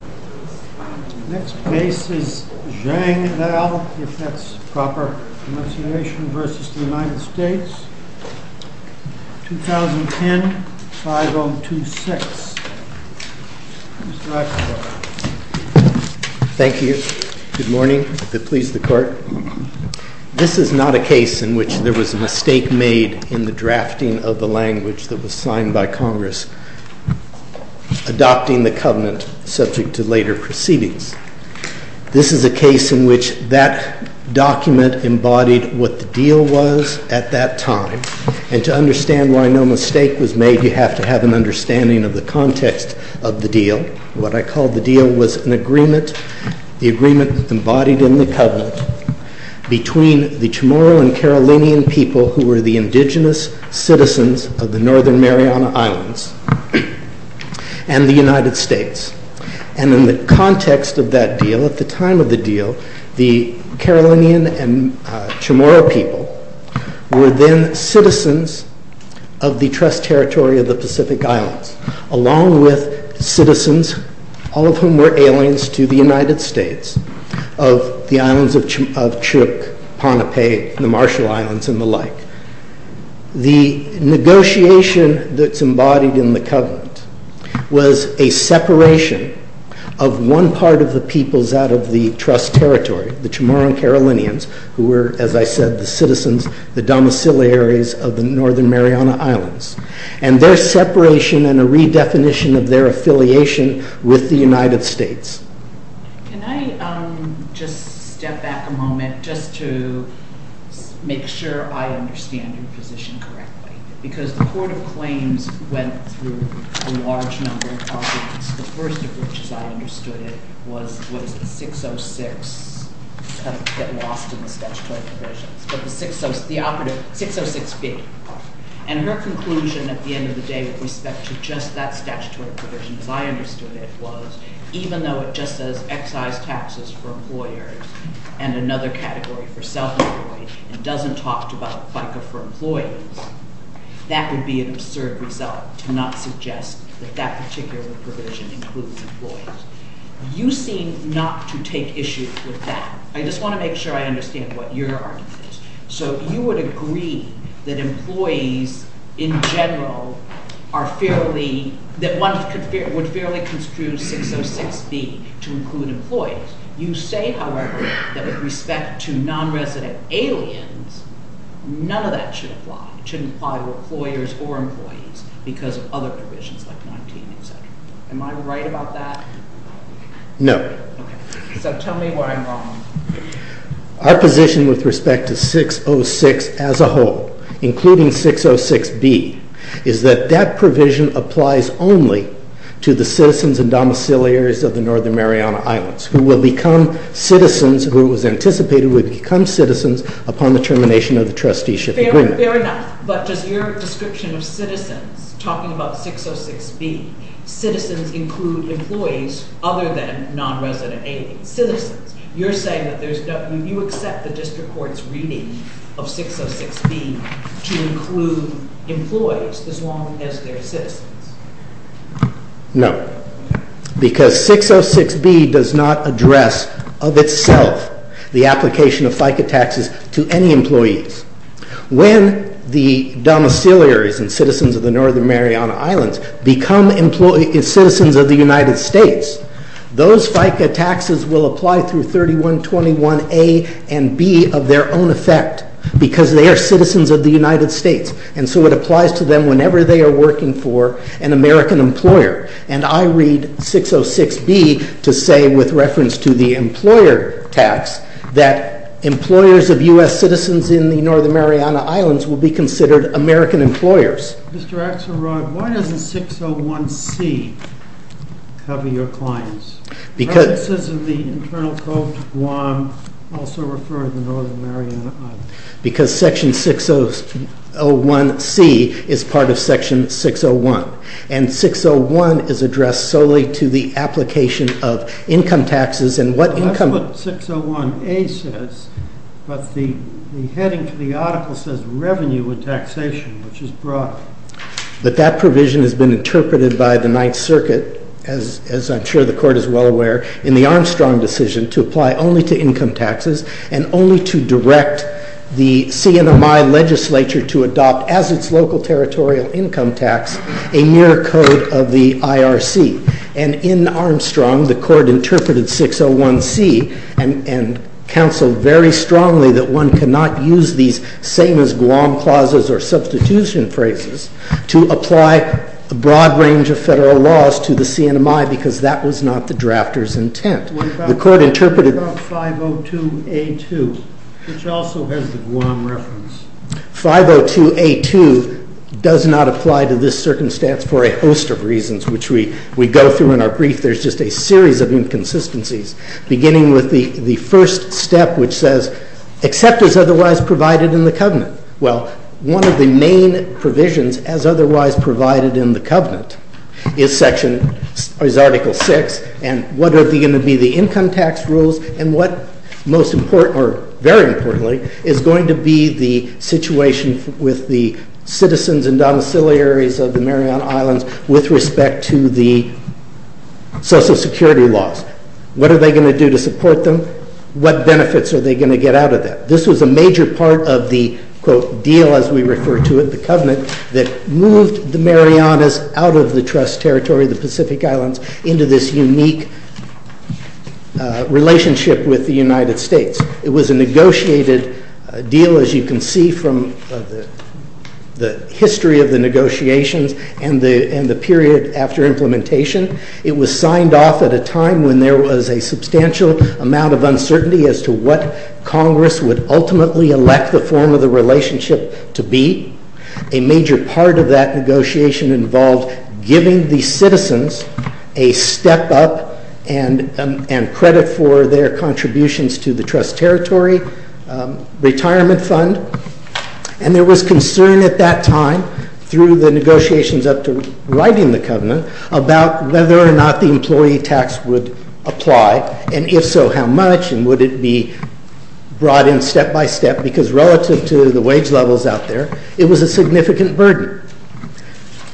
2010, 5026. Mr. Axelrod. Thank you. Good morning. If it pleases the Court, this is not a case in which there was a mistake made in the drafting of the language that was signed by Congress adopting the Covenant subject to later proceedings. This is a case in which that document embodied what the deal was at that time, and to understand why no mistake was made, you have to have an understanding of the context of the deal. What I call the deal was an agreement, the agreement embodied in the Covenant between the Chamorro and Carolinian people who were the indigenous citizens of the Northern Mariana Islands and the United States. And in the context of that deal, at the time of the deal, the Carolinian and Chamorro people were then citizens of the Trust Territory of the Pacific Islands, along with citizens, all of whom were aliens to the United States, of the islands of Chuuk, Pohnpei, the Marshall Islands, and the like. The negotiation that's embodied in the Covenant was a separation of one part of the peoples out of the Trust Territory, the Chamorro and Carolinians, who were, as I said, the citizens, the domiciliaries of the Northern Mariana Islands, and their separation and a redefinition of their position correctly. Because the Court of Claims went through a large number of things, the first of which, as I understood it, was 606, get lost in the statutory provisions, but the 606B. And her conclusion at the end of the day with respect to just that statutory provision, as I understood it, was even though it just says excise taxes for employers and another category for self-employed, and doesn't talk about FICA for employees, that would be an absurd result to not suggest that that particular provision includes employees. You seem not to take issue with that. I just want to make sure I understand what your argument is. So you would agree that employees, in general, would fairly construe 606B to include employees. You say, however, that with respect to non-resident aliens, none of that should apply. It shouldn't apply to employers or employees because of other provisions like 19 etc. Am I right about that? No. So tell me where I'm wrong. Our position with respect to 606 as a whole, including 606B, is that that provision applies only to the citizens and domiciliaries of the Northern Mariana Islands who will become citizens, who it was anticipated would become citizens upon the termination of the trusteeship agreement. Fair enough. But does your description of citizens, talking about 606B, citizens include employees other than non-resident aliens? Citizens. You're saying that you accept the district court's reading of 606B to include employees as long as they're citizens. No. Because 606B does not address of itself the application of FICA taxes to any employees. When the domiciliaries and citizens of the Northern Mariana Islands become citizens of the United States, those FICA taxes will apply through 3121A and 3121B of their own effect because they are citizens of the United States. And so it applies to them whenever they are working for an American employer. And I read 606B to say, with reference to the employer tax, that employers of U.S. citizens in the Northern Mariana Islands will be considered American employers. Mr. Axelrod, why doesn't 601C cover your clients? References of the Internal Code to Guam also refer to the Northern Mariana Islands. Because section 601C is part of section 601, and 601 is addressed solely to the application of income taxes and what income... That's what 601A says, but the heading for the article says revenue and taxation, which is broad. But that provision has been interpreted by the Ninth Circuit, as I'm sure the Court is well aware, in the Armstrong decision to apply only to income taxes and only to direct the CNMI legislature to adopt, as its local territorial income tax, a mere code of the IRC. And in Armstrong, the Court interpreted 601C and counseled very strongly that one cannot use these same-as-Guam clauses or substitution phrases to apply a broad range of federal laws to the CNMI because that was not the drafter's intent. What about 502A2, which also has the Guam reference? 502A2 does not apply to this circumstance for a host of reasons, which we go through in our brief. There's just a series of inconsistencies, beginning with the first step, which says, except as otherwise provided in the covenant. Well, one of the main provisions, as otherwise provided in the covenant, is Article VI, and what are going to be the income tax rules, and what most important, or very importantly, is going to be the situation with the citizens and domiciliaries of the Mariana Islands with respect to the social security laws. What are they going to do to support them? What benefits are they going to get out of that? This was a major part of the, quote, deal, as we refer to it, the covenant, that moved the Marianas out of the trust territory, the Pacific Islands, into this unique relationship with the United States. It was a negotiated deal, as you can see from the history of the negotiations and the period after implementation. It was signed off at a time when there was a substantial amount of uncertainty as to what Congress would ultimately elect the form of the relationship to be. A major part of that negotiation involved giving the citizens a step up and credit for their contributions to the trust territory retirement fund, and there was concern at that time, through the negotiations up to writing the covenant, about whether or not the employee tax would apply, and if so, how much, and would it be brought in step by step, because relative to the wage levels out there, it was a significant burden.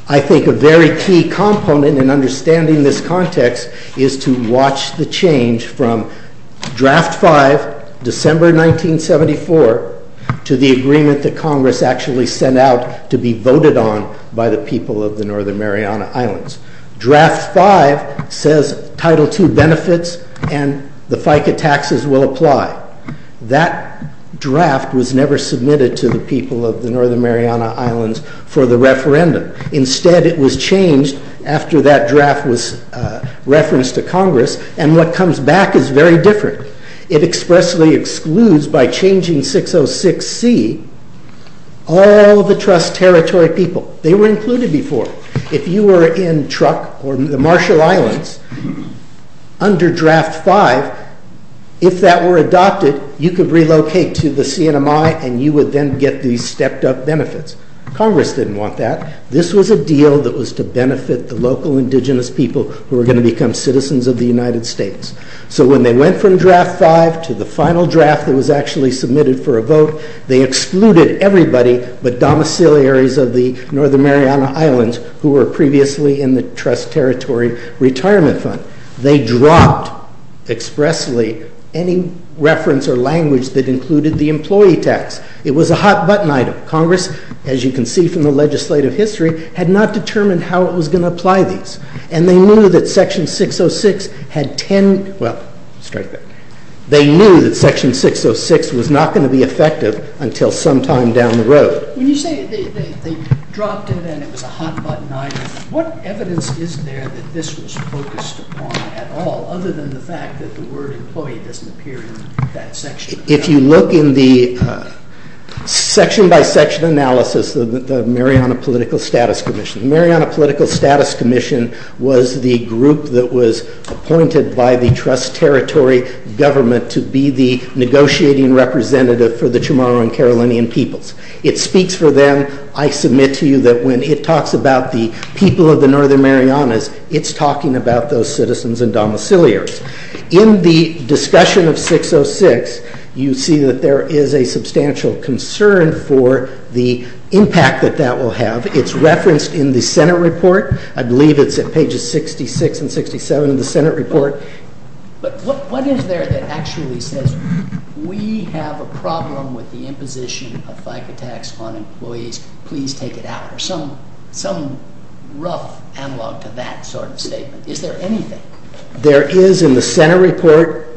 I think a very key component in understanding this context is to watch the change from Draft 5, December 1974, to the agreement that Congress actually sent out to be voted on by the people of the Northern Mariana Islands. Draft 5 says Title II benefits and the FICA taxes will apply. That draft was never submitted to the people of the Northern Mariana Islands for the referendum. Instead, it was changed after that draft was referenced to Congress, and what comes back is very different. It expressly excludes, by changing 606C, all the trust territory people. They were included before. If you were in Truk or the Marshall Islands under Draft 5, if that were adopted, you could relocate to the CNMI, and you would then get these stepped up benefits. Congress didn't want that. This was a deal that was to benefit the local indigenous people who were going to become citizens of the United States, so when they went from Draft 5 to the final draft that was actually submitted for a vote, they excluded everybody but domiciliaries of the Northern Mariana Islands who were previously in the trust territory retirement fund. They dropped expressly any reference or language that included the employee tax. It was a hot-button item. Congress, as you can see from the legislative history, had not determined how it was going to apply these, and they knew that Section 606 was not going to be effective until sometime down the road. When you say they dropped it and it was a hot-button item, what evidence is there that this was focused upon at all, other than the fact that the word employee doesn't appear in that section? If you look in the section-by-section analysis of the Mariana Political Status Commission, the Mariana Political Status Commission was the group that was appointed by the trust territory government to be the negotiating representative for the Chamorro and Carolinian peoples. It speaks for them. I submit to you that when it talks about the people of the Northern Marianas, it's talking about those citizens and domiciliaries. In the discussion of 606, you see that there is a substantial concern for the impact that that will have. It's referenced in the Senate report. I believe it's at pages 66 and 67 of the Senate report. But what is there that actually says, we have a problem with the imposition of FICA tax on employees, please take it out, or some rough analog to that sort of statement? Is there anything? There is, in the Senate report,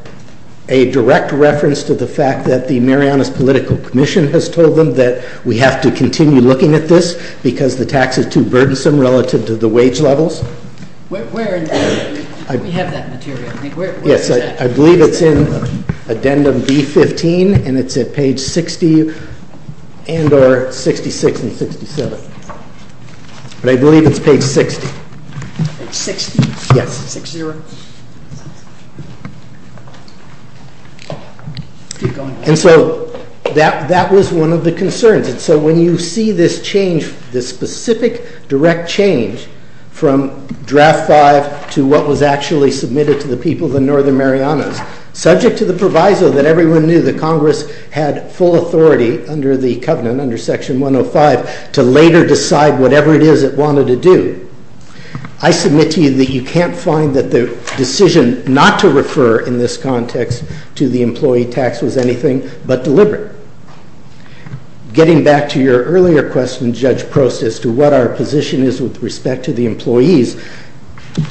a direct reference to the fact that the Mariana Political Commission has told them that we have to continue looking at this because the tax is too burdensome relative to the wage levels. Where is that? We have that material. Yes, I believe it's in addendum B-15, and it's at page 60 and or 66 and 67. But I believe it's page 60. Page 60? Yes. 6-0. And so that was one of the concerns. And so when you see this change, this specific direct change from Draft 5 to what was actually submitted to the people of the Northern Marianas, subject to the proviso that everyone knew that Congress had full authority under the covenant, under Section 105, to later decide whatever it is it wanted to do, I submit to you that you can't find that the decision not to refer in this context to the employee tax was anything but deliberate. Getting back to your earlier question, Judge Prost, as to what our position is with respect to the employees,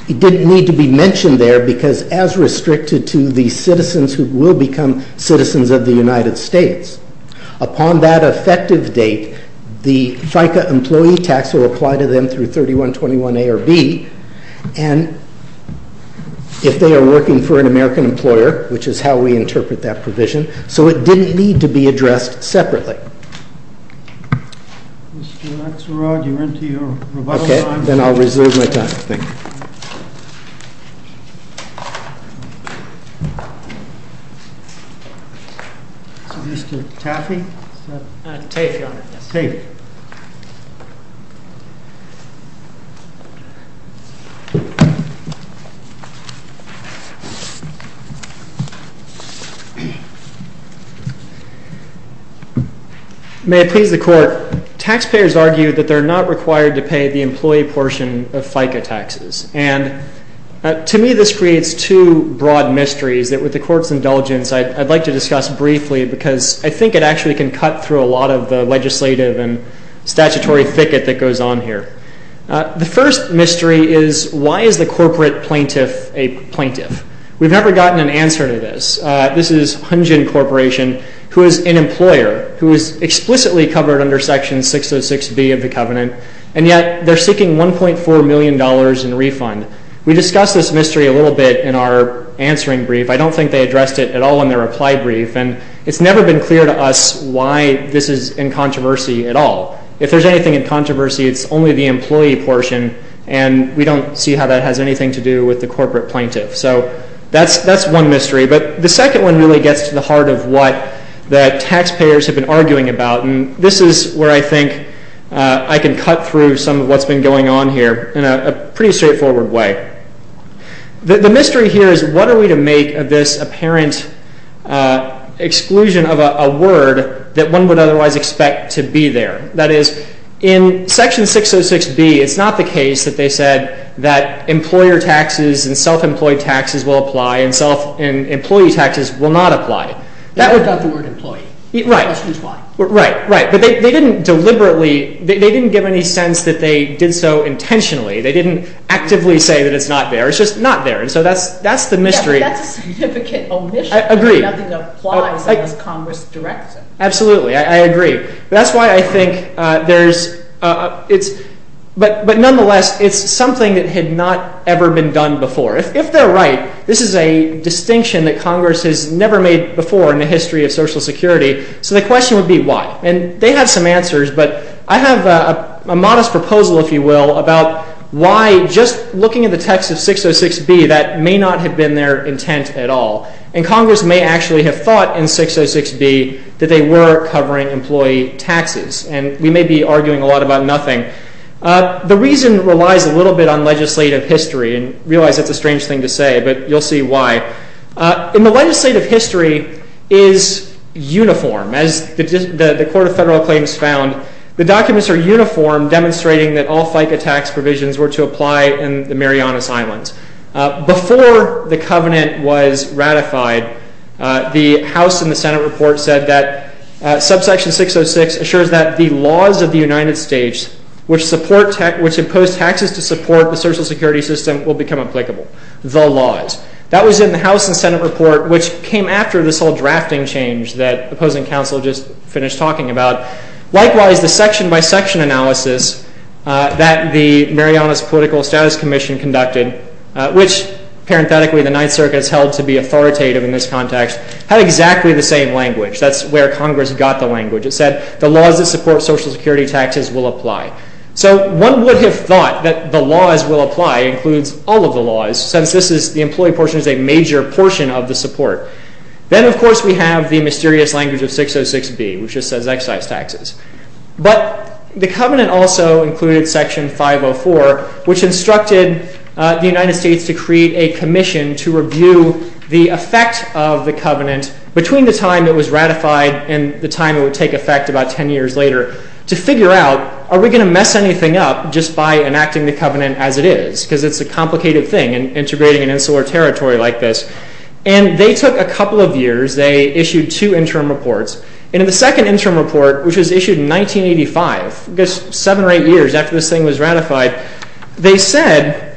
it didn't need to be mentioned there because as restricted to the citizens who will become citizens of the United States, upon that effective date, the FICA employee tax will apply to them through 3121A or B, and if they are working for an American employer, which is how we interpret that provision, so it didn't need to be addressed separately. Mr. Axelrod, you're into your rebuttal time. Okay, then I'll reserve my time. Thank you. Mr. Taffey? Taffey, Your Honor. Taffey. May it please the Court, taxpayers argue that they're not required to pay the employee portion of FICA taxes, and to me this creates two broad mysteries that with the Court's indulgence I'd like to discuss briefly because I think it actually can cut through a lot of the legislative and statutory thicket that goes on here. The first mystery is why is the corporate plaintiff a plaintiff? We've never gotten an answer to this. This is Hunjin Corporation, who is an employer, who is explicitly covered under Section 606B of the Covenant, and yet they're seeking $1.4 million in refund. We discussed this mystery a little bit in our answering brief. I don't think they addressed it at all in their reply brief, and it's never been clear to us why this is in controversy at all. If there's anything in controversy, it's only the employee portion, and we don't see how that has anything to do with the corporate plaintiff. So that's one mystery. But the second one really gets to the heart of what the taxpayers have been arguing about, and this is where I think I can cut through some of what's been going on here in a pretty straightforward way. The mystery here is what are we to make of this apparent exclusion of a word that one would otherwise expect to be there? That is, in Section 606B, it's not the case that they said that employer taxes and self-employed taxes will apply and self-employed taxes will not apply. They never got the word employee. Right. The question is why. Right, right. But they didn't deliberately – they didn't give any sense that they did so intentionally. They didn't actively say that it's not there. It's just not there, and so that's the mystery. Yeah, but that's a significant omission. I agree. Nothing applies unless Congress directs it. Absolutely. I agree. That's why I think there's – but nonetheless, it's something that had not ever been done before. If they're right, this is a distinction that Congress has never made before in the history of Social Security, so the question would be why, and they have some answers, but I have a modest proposal, if you will, about why just looking at the text of 606B, that may not have been their intent at all, and Congress may actually have thought in 606B that they were covering employee taxes, and we may be arguing a lot about nothing. The reason relies a little bit on legislative history, and realize that's a strange thing to say, but you'll see why. In the legislative history is uniform. As the Court of Federal Claims found, the documents are uniform, demonstrating that all FICA tax provisions were to apply in the Marianas Islands. Before the covenant was ratified, the House and the Senate report said that subsection 606 assures that the laws of the United States which support – which impose taxes to support the Social Security system will become applicable. The laws. That was in the House and Senate report, which came after this whole drafting change that opposing counsel just finished talking about. Likewise, the section-by-section analysis that the Marianas Political Status Commission conducted, which parenthetically the Ninth Circuit has held to be authoritative in this context, had exactly the same language. That's where Congress got the language. It said the laws that support Social Security taxes will apply. So one would have thought that the laws will apply includes all of the laws, since this is – the employee portion is a major portion of the support. Then, of course, we have the mysterious language of 606B, which just says excise taxes. But the covenant also included section 504, which instructed the United States to create a commission to review the effect of the covenant between the time it was ratified and the time it would take effect about 10 years later to figure out, are we going to mess anything up just by enacting the covenant as it is? Because it's a complicated thing, integrating an insular territory like this. And they took a couple of years. They issued two interim reports. And in the second interim report, which was issued in 1985, seven or eight years after this thing was ratified, they said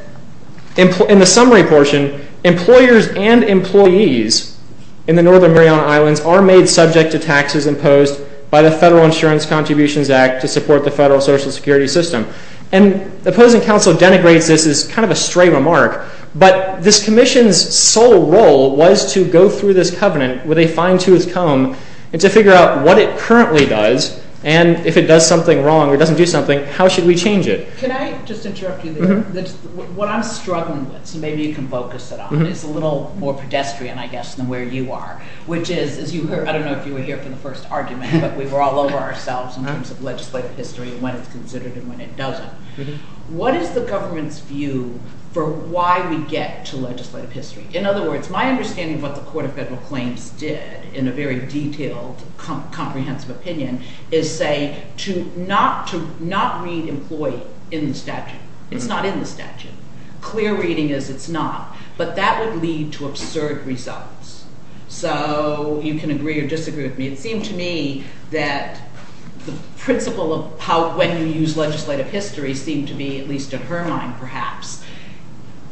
in the summary portion employers and employees in the Northern Mariana Islands are made subject to taxes imposed by the Federal Insurance Contributions Act to support the federal Social Security system. And opposing counsel denigrates this as kind of a stray remark, but this commission's sole role was to go through this covenant with a fine-tooth comb and to figure out what it currently does. And if it does something wrong or doesn't do something, how should we change it? Can I just interrupt you there? What I'm struggling with, so maybe you can focus it on, is a little more pedestrian, I guess, than where you are, which is, as you heard, I don't know if you were here for the first argument, but we were all over ourselves in terms of legislative history and when it's considered and when it doesn't. What is the government's view for why we get to legislative history? In other words, my understanding of what the Court of Federal Claims did in a very detailed, comprehensive opinion is, say, to not read employee in the statute. It's not in the statute. Clear reading is it's not. But that would lead to absurd results. So you can agree or disagree with me. It seemed to me that the principle of how when you use legislative history seemed to be, at least in her mind perhaps,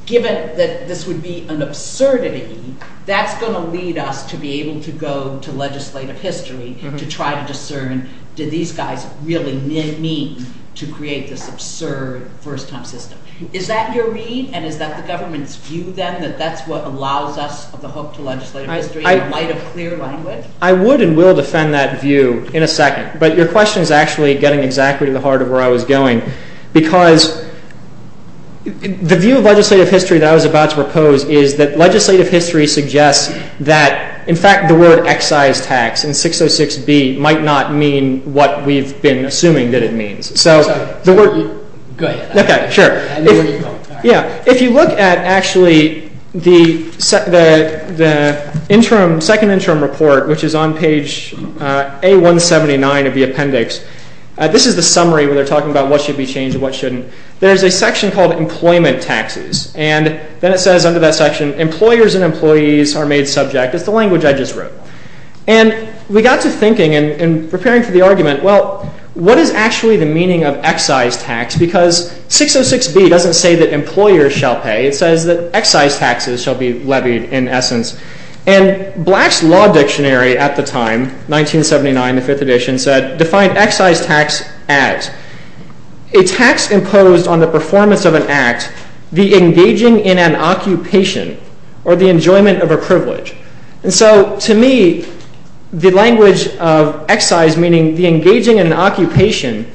given that this would be an absurdity, that's going to lead us to be able to go to legislative history to try to discern did these guys really mean to create this absurd first-time system. Is that your read and is that the government's view then that that's what allows us the hook to legislative history in light of clear language? I would and will defend that view in a second. But your question is actually getting exactly to the heart of where I was going because the view of legislative history that I was about to propose is that legislative history suggests that, in fact, the word excise tax in 606B might not mean what we've been assuming that it means. So the word... Go ahead. Okay, sure. I know where you're going. Yeah, if you look at actually the interim, second interim report, which is on page A179 of the appendix, this is the summary where they're talking about what should be changed and what shouldn't. There's a section called Employment Taxes, and then it says under that section, employers and employees are made subject. It's the language I just wrote. And we got to thinking and preparing for the argument, well, what is actually the meaning of excise tax? Because 606B doesn't say that employers shall pay. It says that excise taxes shall be levied in essence. And Black's Law Dictionary at the time, 1979, the fifth edition, said define excise tax as a tax imposed on the performance of an act, the engaging in an occupation, or the enjoyment of a privilege. And so to me, the language of excise, meaning the engaging in an occupation,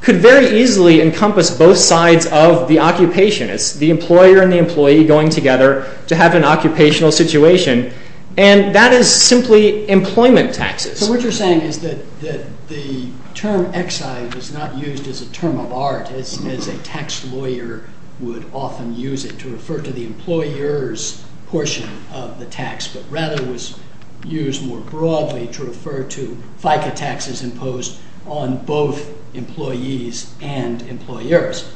could very easily encompass both sides of the occupation. It's the employer and the employee going together to have an occupational situation. And that is simply employment taxes. So what you're saying is that the term excise is not used as a term of art, as a tax lawyer would often use it to refer to the employer's portion of the tax, but rather was used more broadly to refer to FICA taxes imposed on both employees and employers.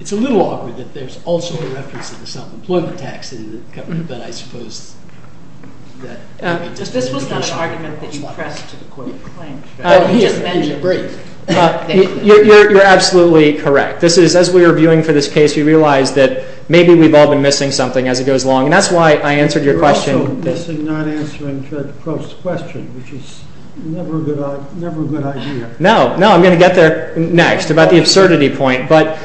It's a little awkward that there's also a reference to the self-employment tax in the government, but I suppose that... This was not an argument that you pressed to the Court of Claims, but you just mentioned it. You're absolutely correct. As we were viewing for this case, we realized that maybe we've all been missing something as it goes along, and that's why I answered your question. You're also missing not answering Judge Post's question, which is never a good idea. No, I'm going to get there next, about the absurdity point. But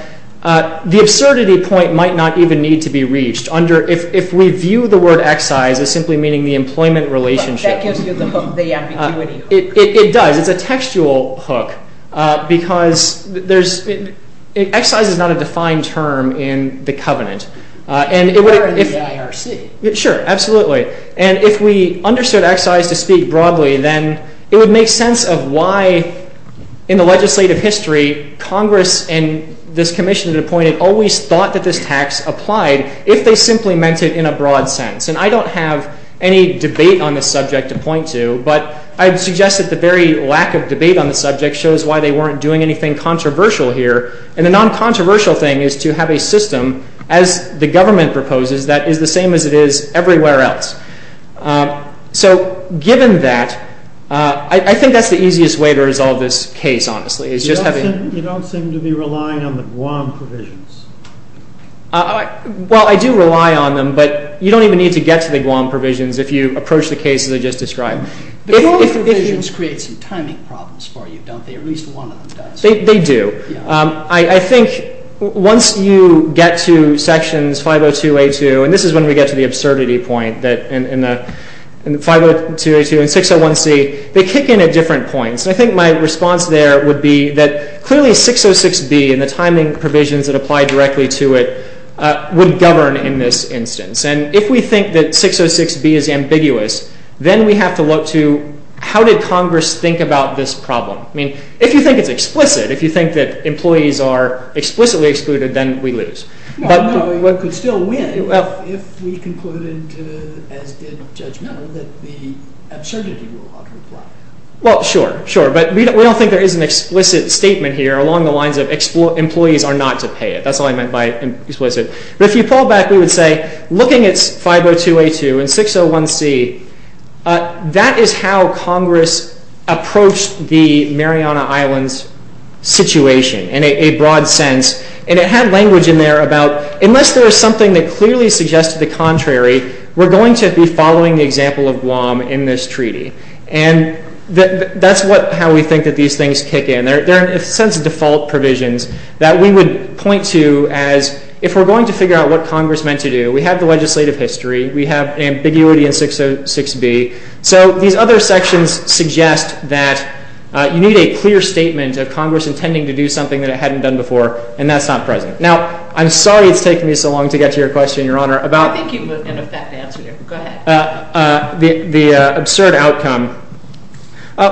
the absurdity point might not even need to be reached. If we view the word excise as simply meaning the employment relationship... That gives you the hook, the ambiguity hook. It does. It's a textual hook, because excise is not a defined term in the covenant. Or in the IRC. Sure, absolutely. And if we understood excise to speak broadly, then it would make sense of why, in the legislative history, Congress and this commission that appointed always thought that this tax applied if they simply meant it in a broad sense. And I don't have any debate on this subject to point to, but I'd suggest that the very lack of debate on the subject shows why they weren't doing anything controversial here. And the non-controversial thing is to have a system, as the government proposes, that is the same as it is everywhere else. So, given that, I think that's the easiest way to resolve this case, honestly. You don't seem to be relying on the Guam provisions. Well, I do rely on them, but you don't even need to get to the Guam provisions if you approach the cases I just described. The Guam provisions create some timing problems for you, don't they? At least one of them does. They do. I think once you get to sections 502A2, and this is when we get to the absurdity point, in 502A2 and 601C, they kick in at different points. I think my response there would be that clearly 606B and the timing provisions that apply directly to it would govern in this instance. And if we think that 606B is ambiguous, then we have to look to how did Congress think about this problem? I mean, if you think it's explicit, if you think that employees are explicitly excluded, then we lose. Well, no, one could still win if we concluded, as did Judge Miller, that the absurdity rule ought to apply. Well, sure, sure. But we don't think there is an explicit statement here along the lines of employees are not to pay it. That's all I meant by explicit. But if you pull back, we would say, looking at 502A2 and 601C, that is how Congress approached the Mariana Islands situation in a broad sense. And it had language in there about unless there was something that clearly suggested the contrary, we're going to be following the example of Guam in this treaty. And that's how we think that these things kick in. There are a sense of default provisions that we would point to as if we're going to figure out what Congress meant to do, we have the legislative history, we have ambiguity in 606B. So these other sections suggest that you need a clear statement of Congress intending to do something that it hadn't done before, and that's not present. Now, I'm sorry it's taken me so long to get to your question, Your Honor, about the absurd outcome.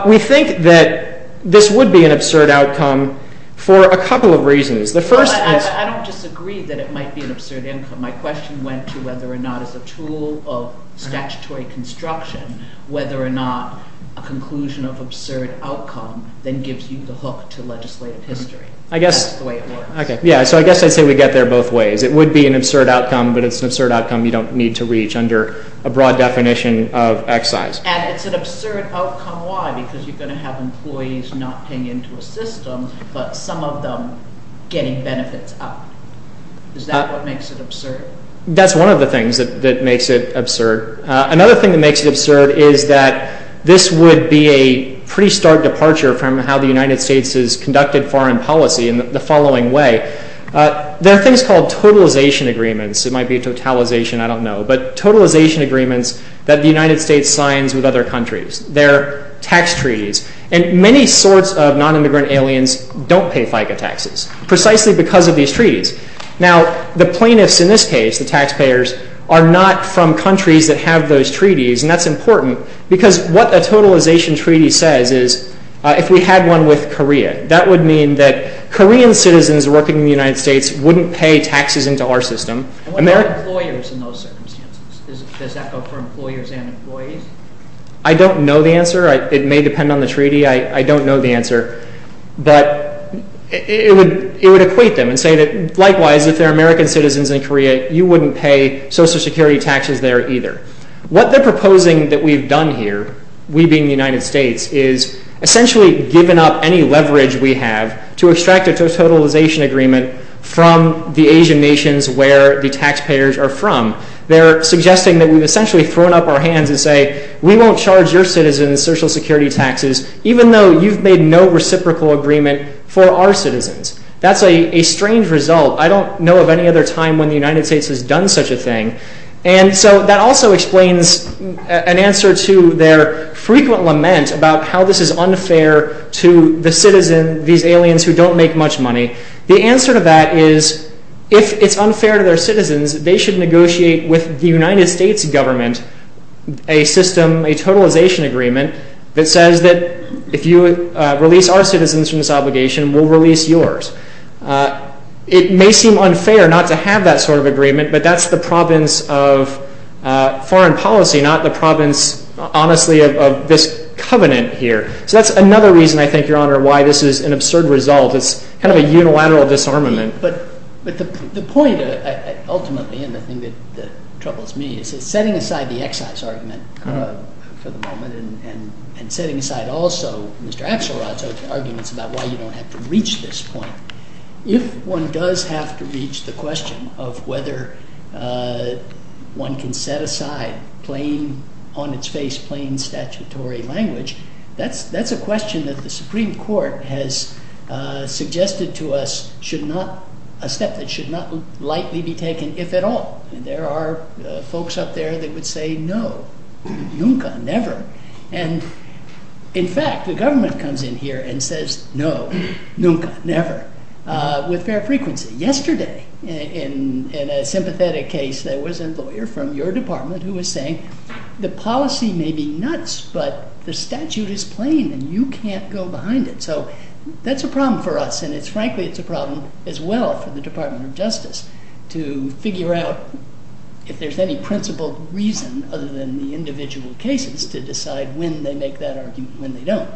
We think that this would be an absurd outcome for a couple of reasons. The first is... I don't disagree that it might be an absurd outcome. My question went to whether or not as a tool of statutory construction, whether or not a conclusion of absurd outcome then gives you the hook to legislative history. That's the way it works. Yeah, so I guess I'd say we get there both ways. It would be an absurd outcome, but it's an absurd outcome you don't need to reach under a broad definition of excise. And it's an absurd outcome, why? Because you're going to have employees not paying into a system, but some of them getting benefits out. Is that what makes it absurd? That's one of the things that makes it absurd. Another thing that makes it absurd is that this would be a pretty stark departure from how the United States has conducted foreign policy in the following way. There are things called totalization agreements. It might be a totalization, I don't know. But totalization agreements that the United States signs with other countries. They're tax treaties. And many sorts of non-immigrant aliens don't pay FICA taxes, precisely because of these treaties. Now, the plaintiffs in this case, the taxpayers, are not from countries that have those treaties, and that's important, because what a totalization treaty says is if we had one with Korea, that would mean that Korean citizens working in the United States wouldn't pay taxes into our system. And what about employers in those circumstances? Does that go for employers and employees? I don't know the answer. It may depend on the treaty. I don't know the answer. But it would equate them and say that, likewise, if they're American citizens in Korea, you wouldn't pay Social Security taxes there either. What they're proposing that we've done here, we being the United States, is essentially given up any leverage we have to extract a totalization agreement from the Asian nations where the taxpayers are from. They're suggesting that we've essentially thrown up our hands and say, we won't charge your citizens Social Security taxes even though you've made no reciprocal agreement for our citizens. That's a strange result. I don't know of any other time when the United States has done such a thing. And so that also explains an answer to their frequent lament about how this is unfair to the citizen, these aliens who don't make much money. The answer to that is if it's unfair to their citizens, they should negotiate with the United States government a system, a totalization agreement, that says that if you release our citizens from this obligation, we'll release yours. It may seem unfair not to have that sort of agreement, but that's the province of foreign policy, not the province, honestly, of this covenant here. So that's another reason, I think, Your Honor, why this is an absurd result. It's kind of a unilateral disarmament. But the point, ultimately, and the thing that troubles me is that setting aside the excise argument for the moment and setting aside also Mr. Axelrod's arguments about why you don't have to reach this point. If one does have to reach the question of whether one can set aside plain, on its face, plain statutory language, that's a question that the Supreme Court has suggested to us should not, a step that should not lightly be taken, if at all. There are folks up there that would say, no, nunca, never. And, in fact, the government comes in here and says, no, nunca, never, with fair frequency. Yesterday, in a sympathetic case, there was a lawyer from your department who was saying, the policy may be nuts, but the statute is plain, and you can't go behind it. So that's a problem for us, and frankly, it's a problem as well for the Department of Justice to figure out if there's any principled reason other than the individual cases to decide when they make that argument, when they don't.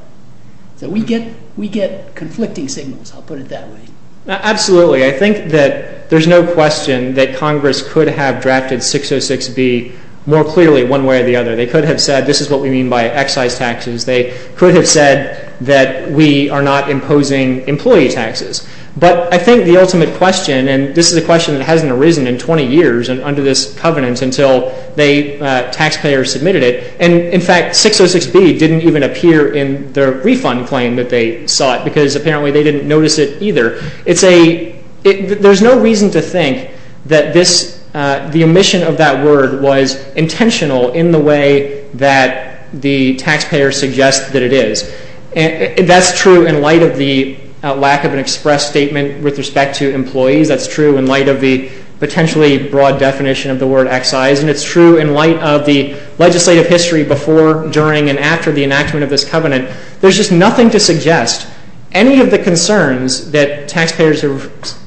So we get conflicting signals, I'll put it that way. Absolutely. I think that there's no question that Congress could have drafted 606B more clearly, one way or the other. They could have said, this is what we mean by excise taxes. They could have said that we are not imposing employee taxes. But I think the ultimate question, and this is a question that hasn't arisen in 20 years and under this covenant until they, taxpayers submitted it, and in fact, 606B didn't even appear in the refund claim that they sought because apparently they didn't notice it either. It's a, there's no reason to think that this, the omission of that word was intentional in the way that the taxpayer suggests that it is. That's true in light of the lack of an express statement with respect to employees. That's true in light of the potentially broad definition of the word excise. And it's true in light of the legislative history before, during, and after the enactment of this covenant. There's just nothing to suggest any of the concerns that taxpayers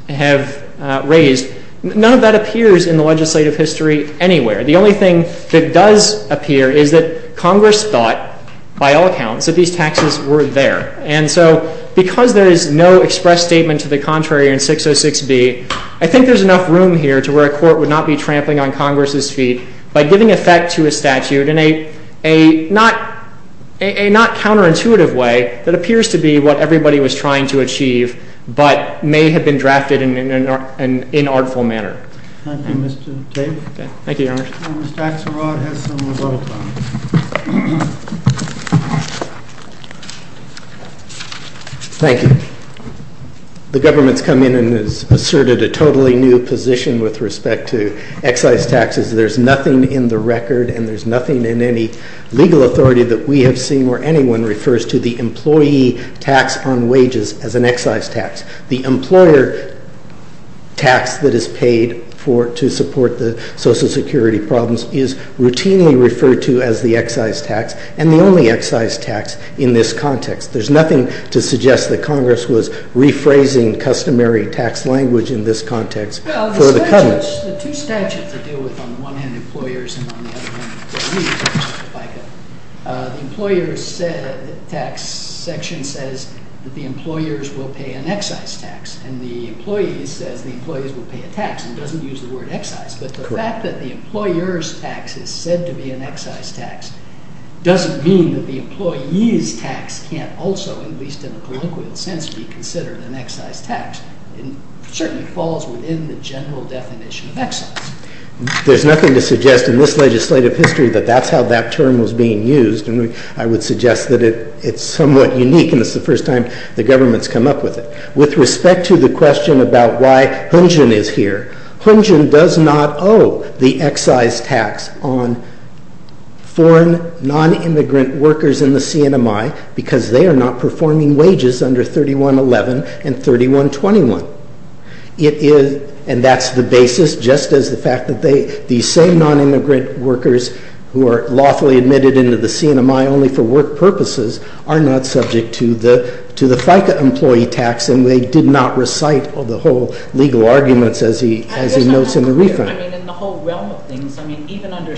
have raised. None of that appears in the legislative history anywhere. The only thing that does appear is that Congress thought, by all accounts, that these taxes were there. And so because there is no express statement to the contrary in 606B, I think there's enough room here to where a court would not be trampling on Congress's feet by giving effect to a statute in a not counterintuitive way that appears to be what everybody was trying to achieve but may have been drafted in an inartful manner. Thank you, Mr. Tate. Thank you, Your Honor. Mr. Axelrod has some rebuttal time. Thank you. The government's come in and has asserted a totally new position with respect to excise taxes. There's nothing in the record and there's nothing in any legal authority that we have seen where anyone refers to the employee tax on wages as an excise tax. The employer tax that is paid to support the Social Security problems is routinely referred to as the excise tax and the only excise tax in this context. There's nothing to suggest that Congress was rephrasing customary tax language in this context for the coming... Well, the statute, the two statutes that deal with on the one hand employers and on the other hand employees, the employers said, the tax section says that the employers will pay an excise tax and the employees says the employees will pay a tax and doesn't use the word excise but the fact that the employers tax is said to be an excise tax doesn't mean that the employees tax can't also, at least in a colloquial sense, be considered an excise tax and certainly falls within the general definition of excise. There's nothing to suggest in this legislative history that that's how that term was being used and I would suggest that it's somewhat unique and it's the first time the government's come up with it. With respect to the question about why Hunjin is here, Hunjin does not owe the excise tax on foreign non-immigrant workers in the CNMI because they are not performing wages under 3111 and 3121. And that's the basis just as the fact that these same non-immigrant workers who are lawfully admitted into the CNMI only for work purposes are not subject to the FICA employee tax and they did not recite all the whole legal arguments as he notes in the refund. In the whole realm of things, even under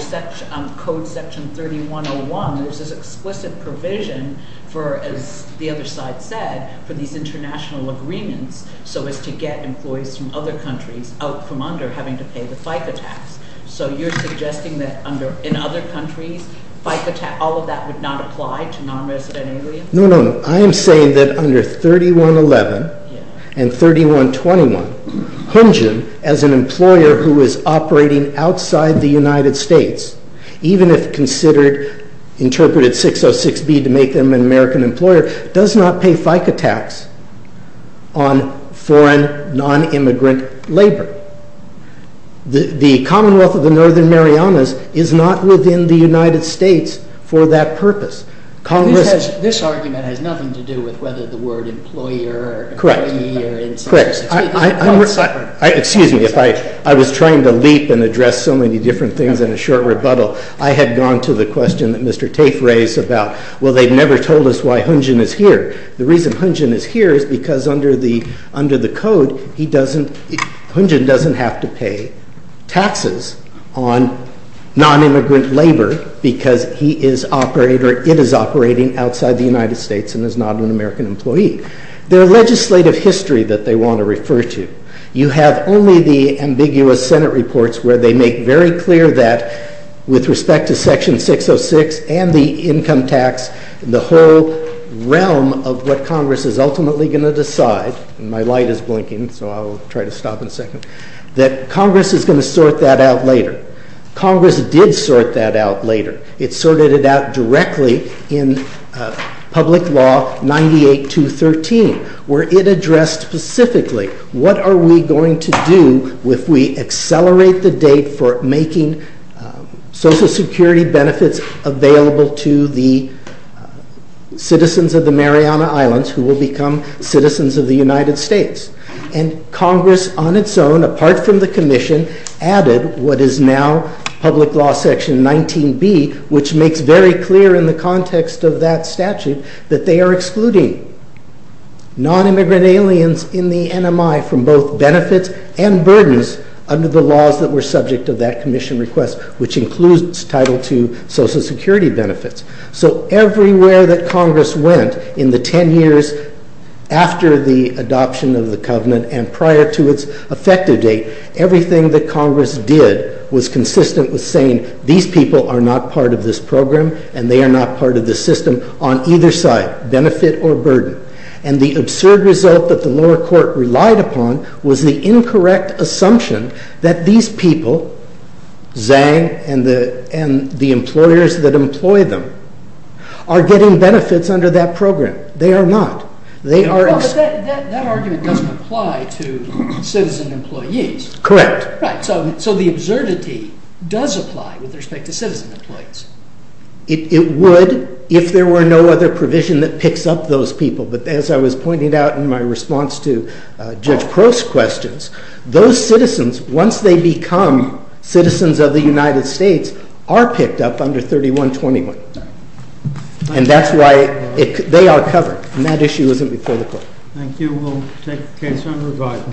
code section 3101, there's this explicit provision for, as the other side said, for these international agreements so as to get employees from other countries out from under having to pay the FICA tax. So you're suggesting that in other countries FICA tax, all of that would not apply to non-resident aliens? No, no, no. I am saying that under 3111 and 3121, Hunjin, as an employer who is operating outside the United States, even if considered, interpreted 606B to make them an American employer, does not pay FICA tax on foreign non-immigrant labor. The Commonwealth of the Northern Marianas is not within the United States for that purpose. This argument has nothing to do with whether the word employer or employee Correct. Excuse me, if I was trying to leap and address so many different things in a short rebuttal, I had gone to the question that Mr. Tafe raised about well, they've never told us why Hunjin is here. The reason Hunjin is here is because under the code, he doesn't, Hunjin doesn't have to pay taxes on non-immigrant labor because he is operating or it is operating outside the United States and is not an American employee. Their legislative history that they want to refer to, you have only the ambiguous Senate reports where they make very clear that with respect to Section 606 and the income tax, the whole realm of what Congress is ultimately going to decide, and my light is blinking so I'll try to stop in a second, that Congress is going to sort that out later. Congress did sort that out later. It sorted it out directly in Public Law 98213 where it addressed specifically what are we going to do if we accelerate the date for making Social Security benefits available to the citizens of the Mariana Islands who will become citizens of the United States. And Congress on its own, apart from the Commission, added what is now Public Law Section 19B which makes very clear in the context of that statute that they are excluding non-immigrant aliens in the NMI from both benefits and burdens under the laws that were subject to that Commission request which includes Title II Social Security benefits. So everywhere that Congress went in the ten years after the adoption of the Covenant and prior to its effective date, everything that Congress did was consistent with saying these people are not part of this program and they are not part of this system on either side, benefit or burden. And the absurd result that the lower court relied upon was the incorrect assumption that these people, Zhang and the employers that employ them, are getting benefits under that program. They are not. They are... But that argument doesn't apply to citizen employees. Correct. So the absurdity does apply with respect to citizen employees. It would if there were no other provision that picks up those people. But as I was pointing out in my response to Judge Crow's questions, those citizens, once they become citizens of the United States, are picked up under 3121. And that's why they are covered. And that issue isn't before the court. Thank you. We'll take the case from the record.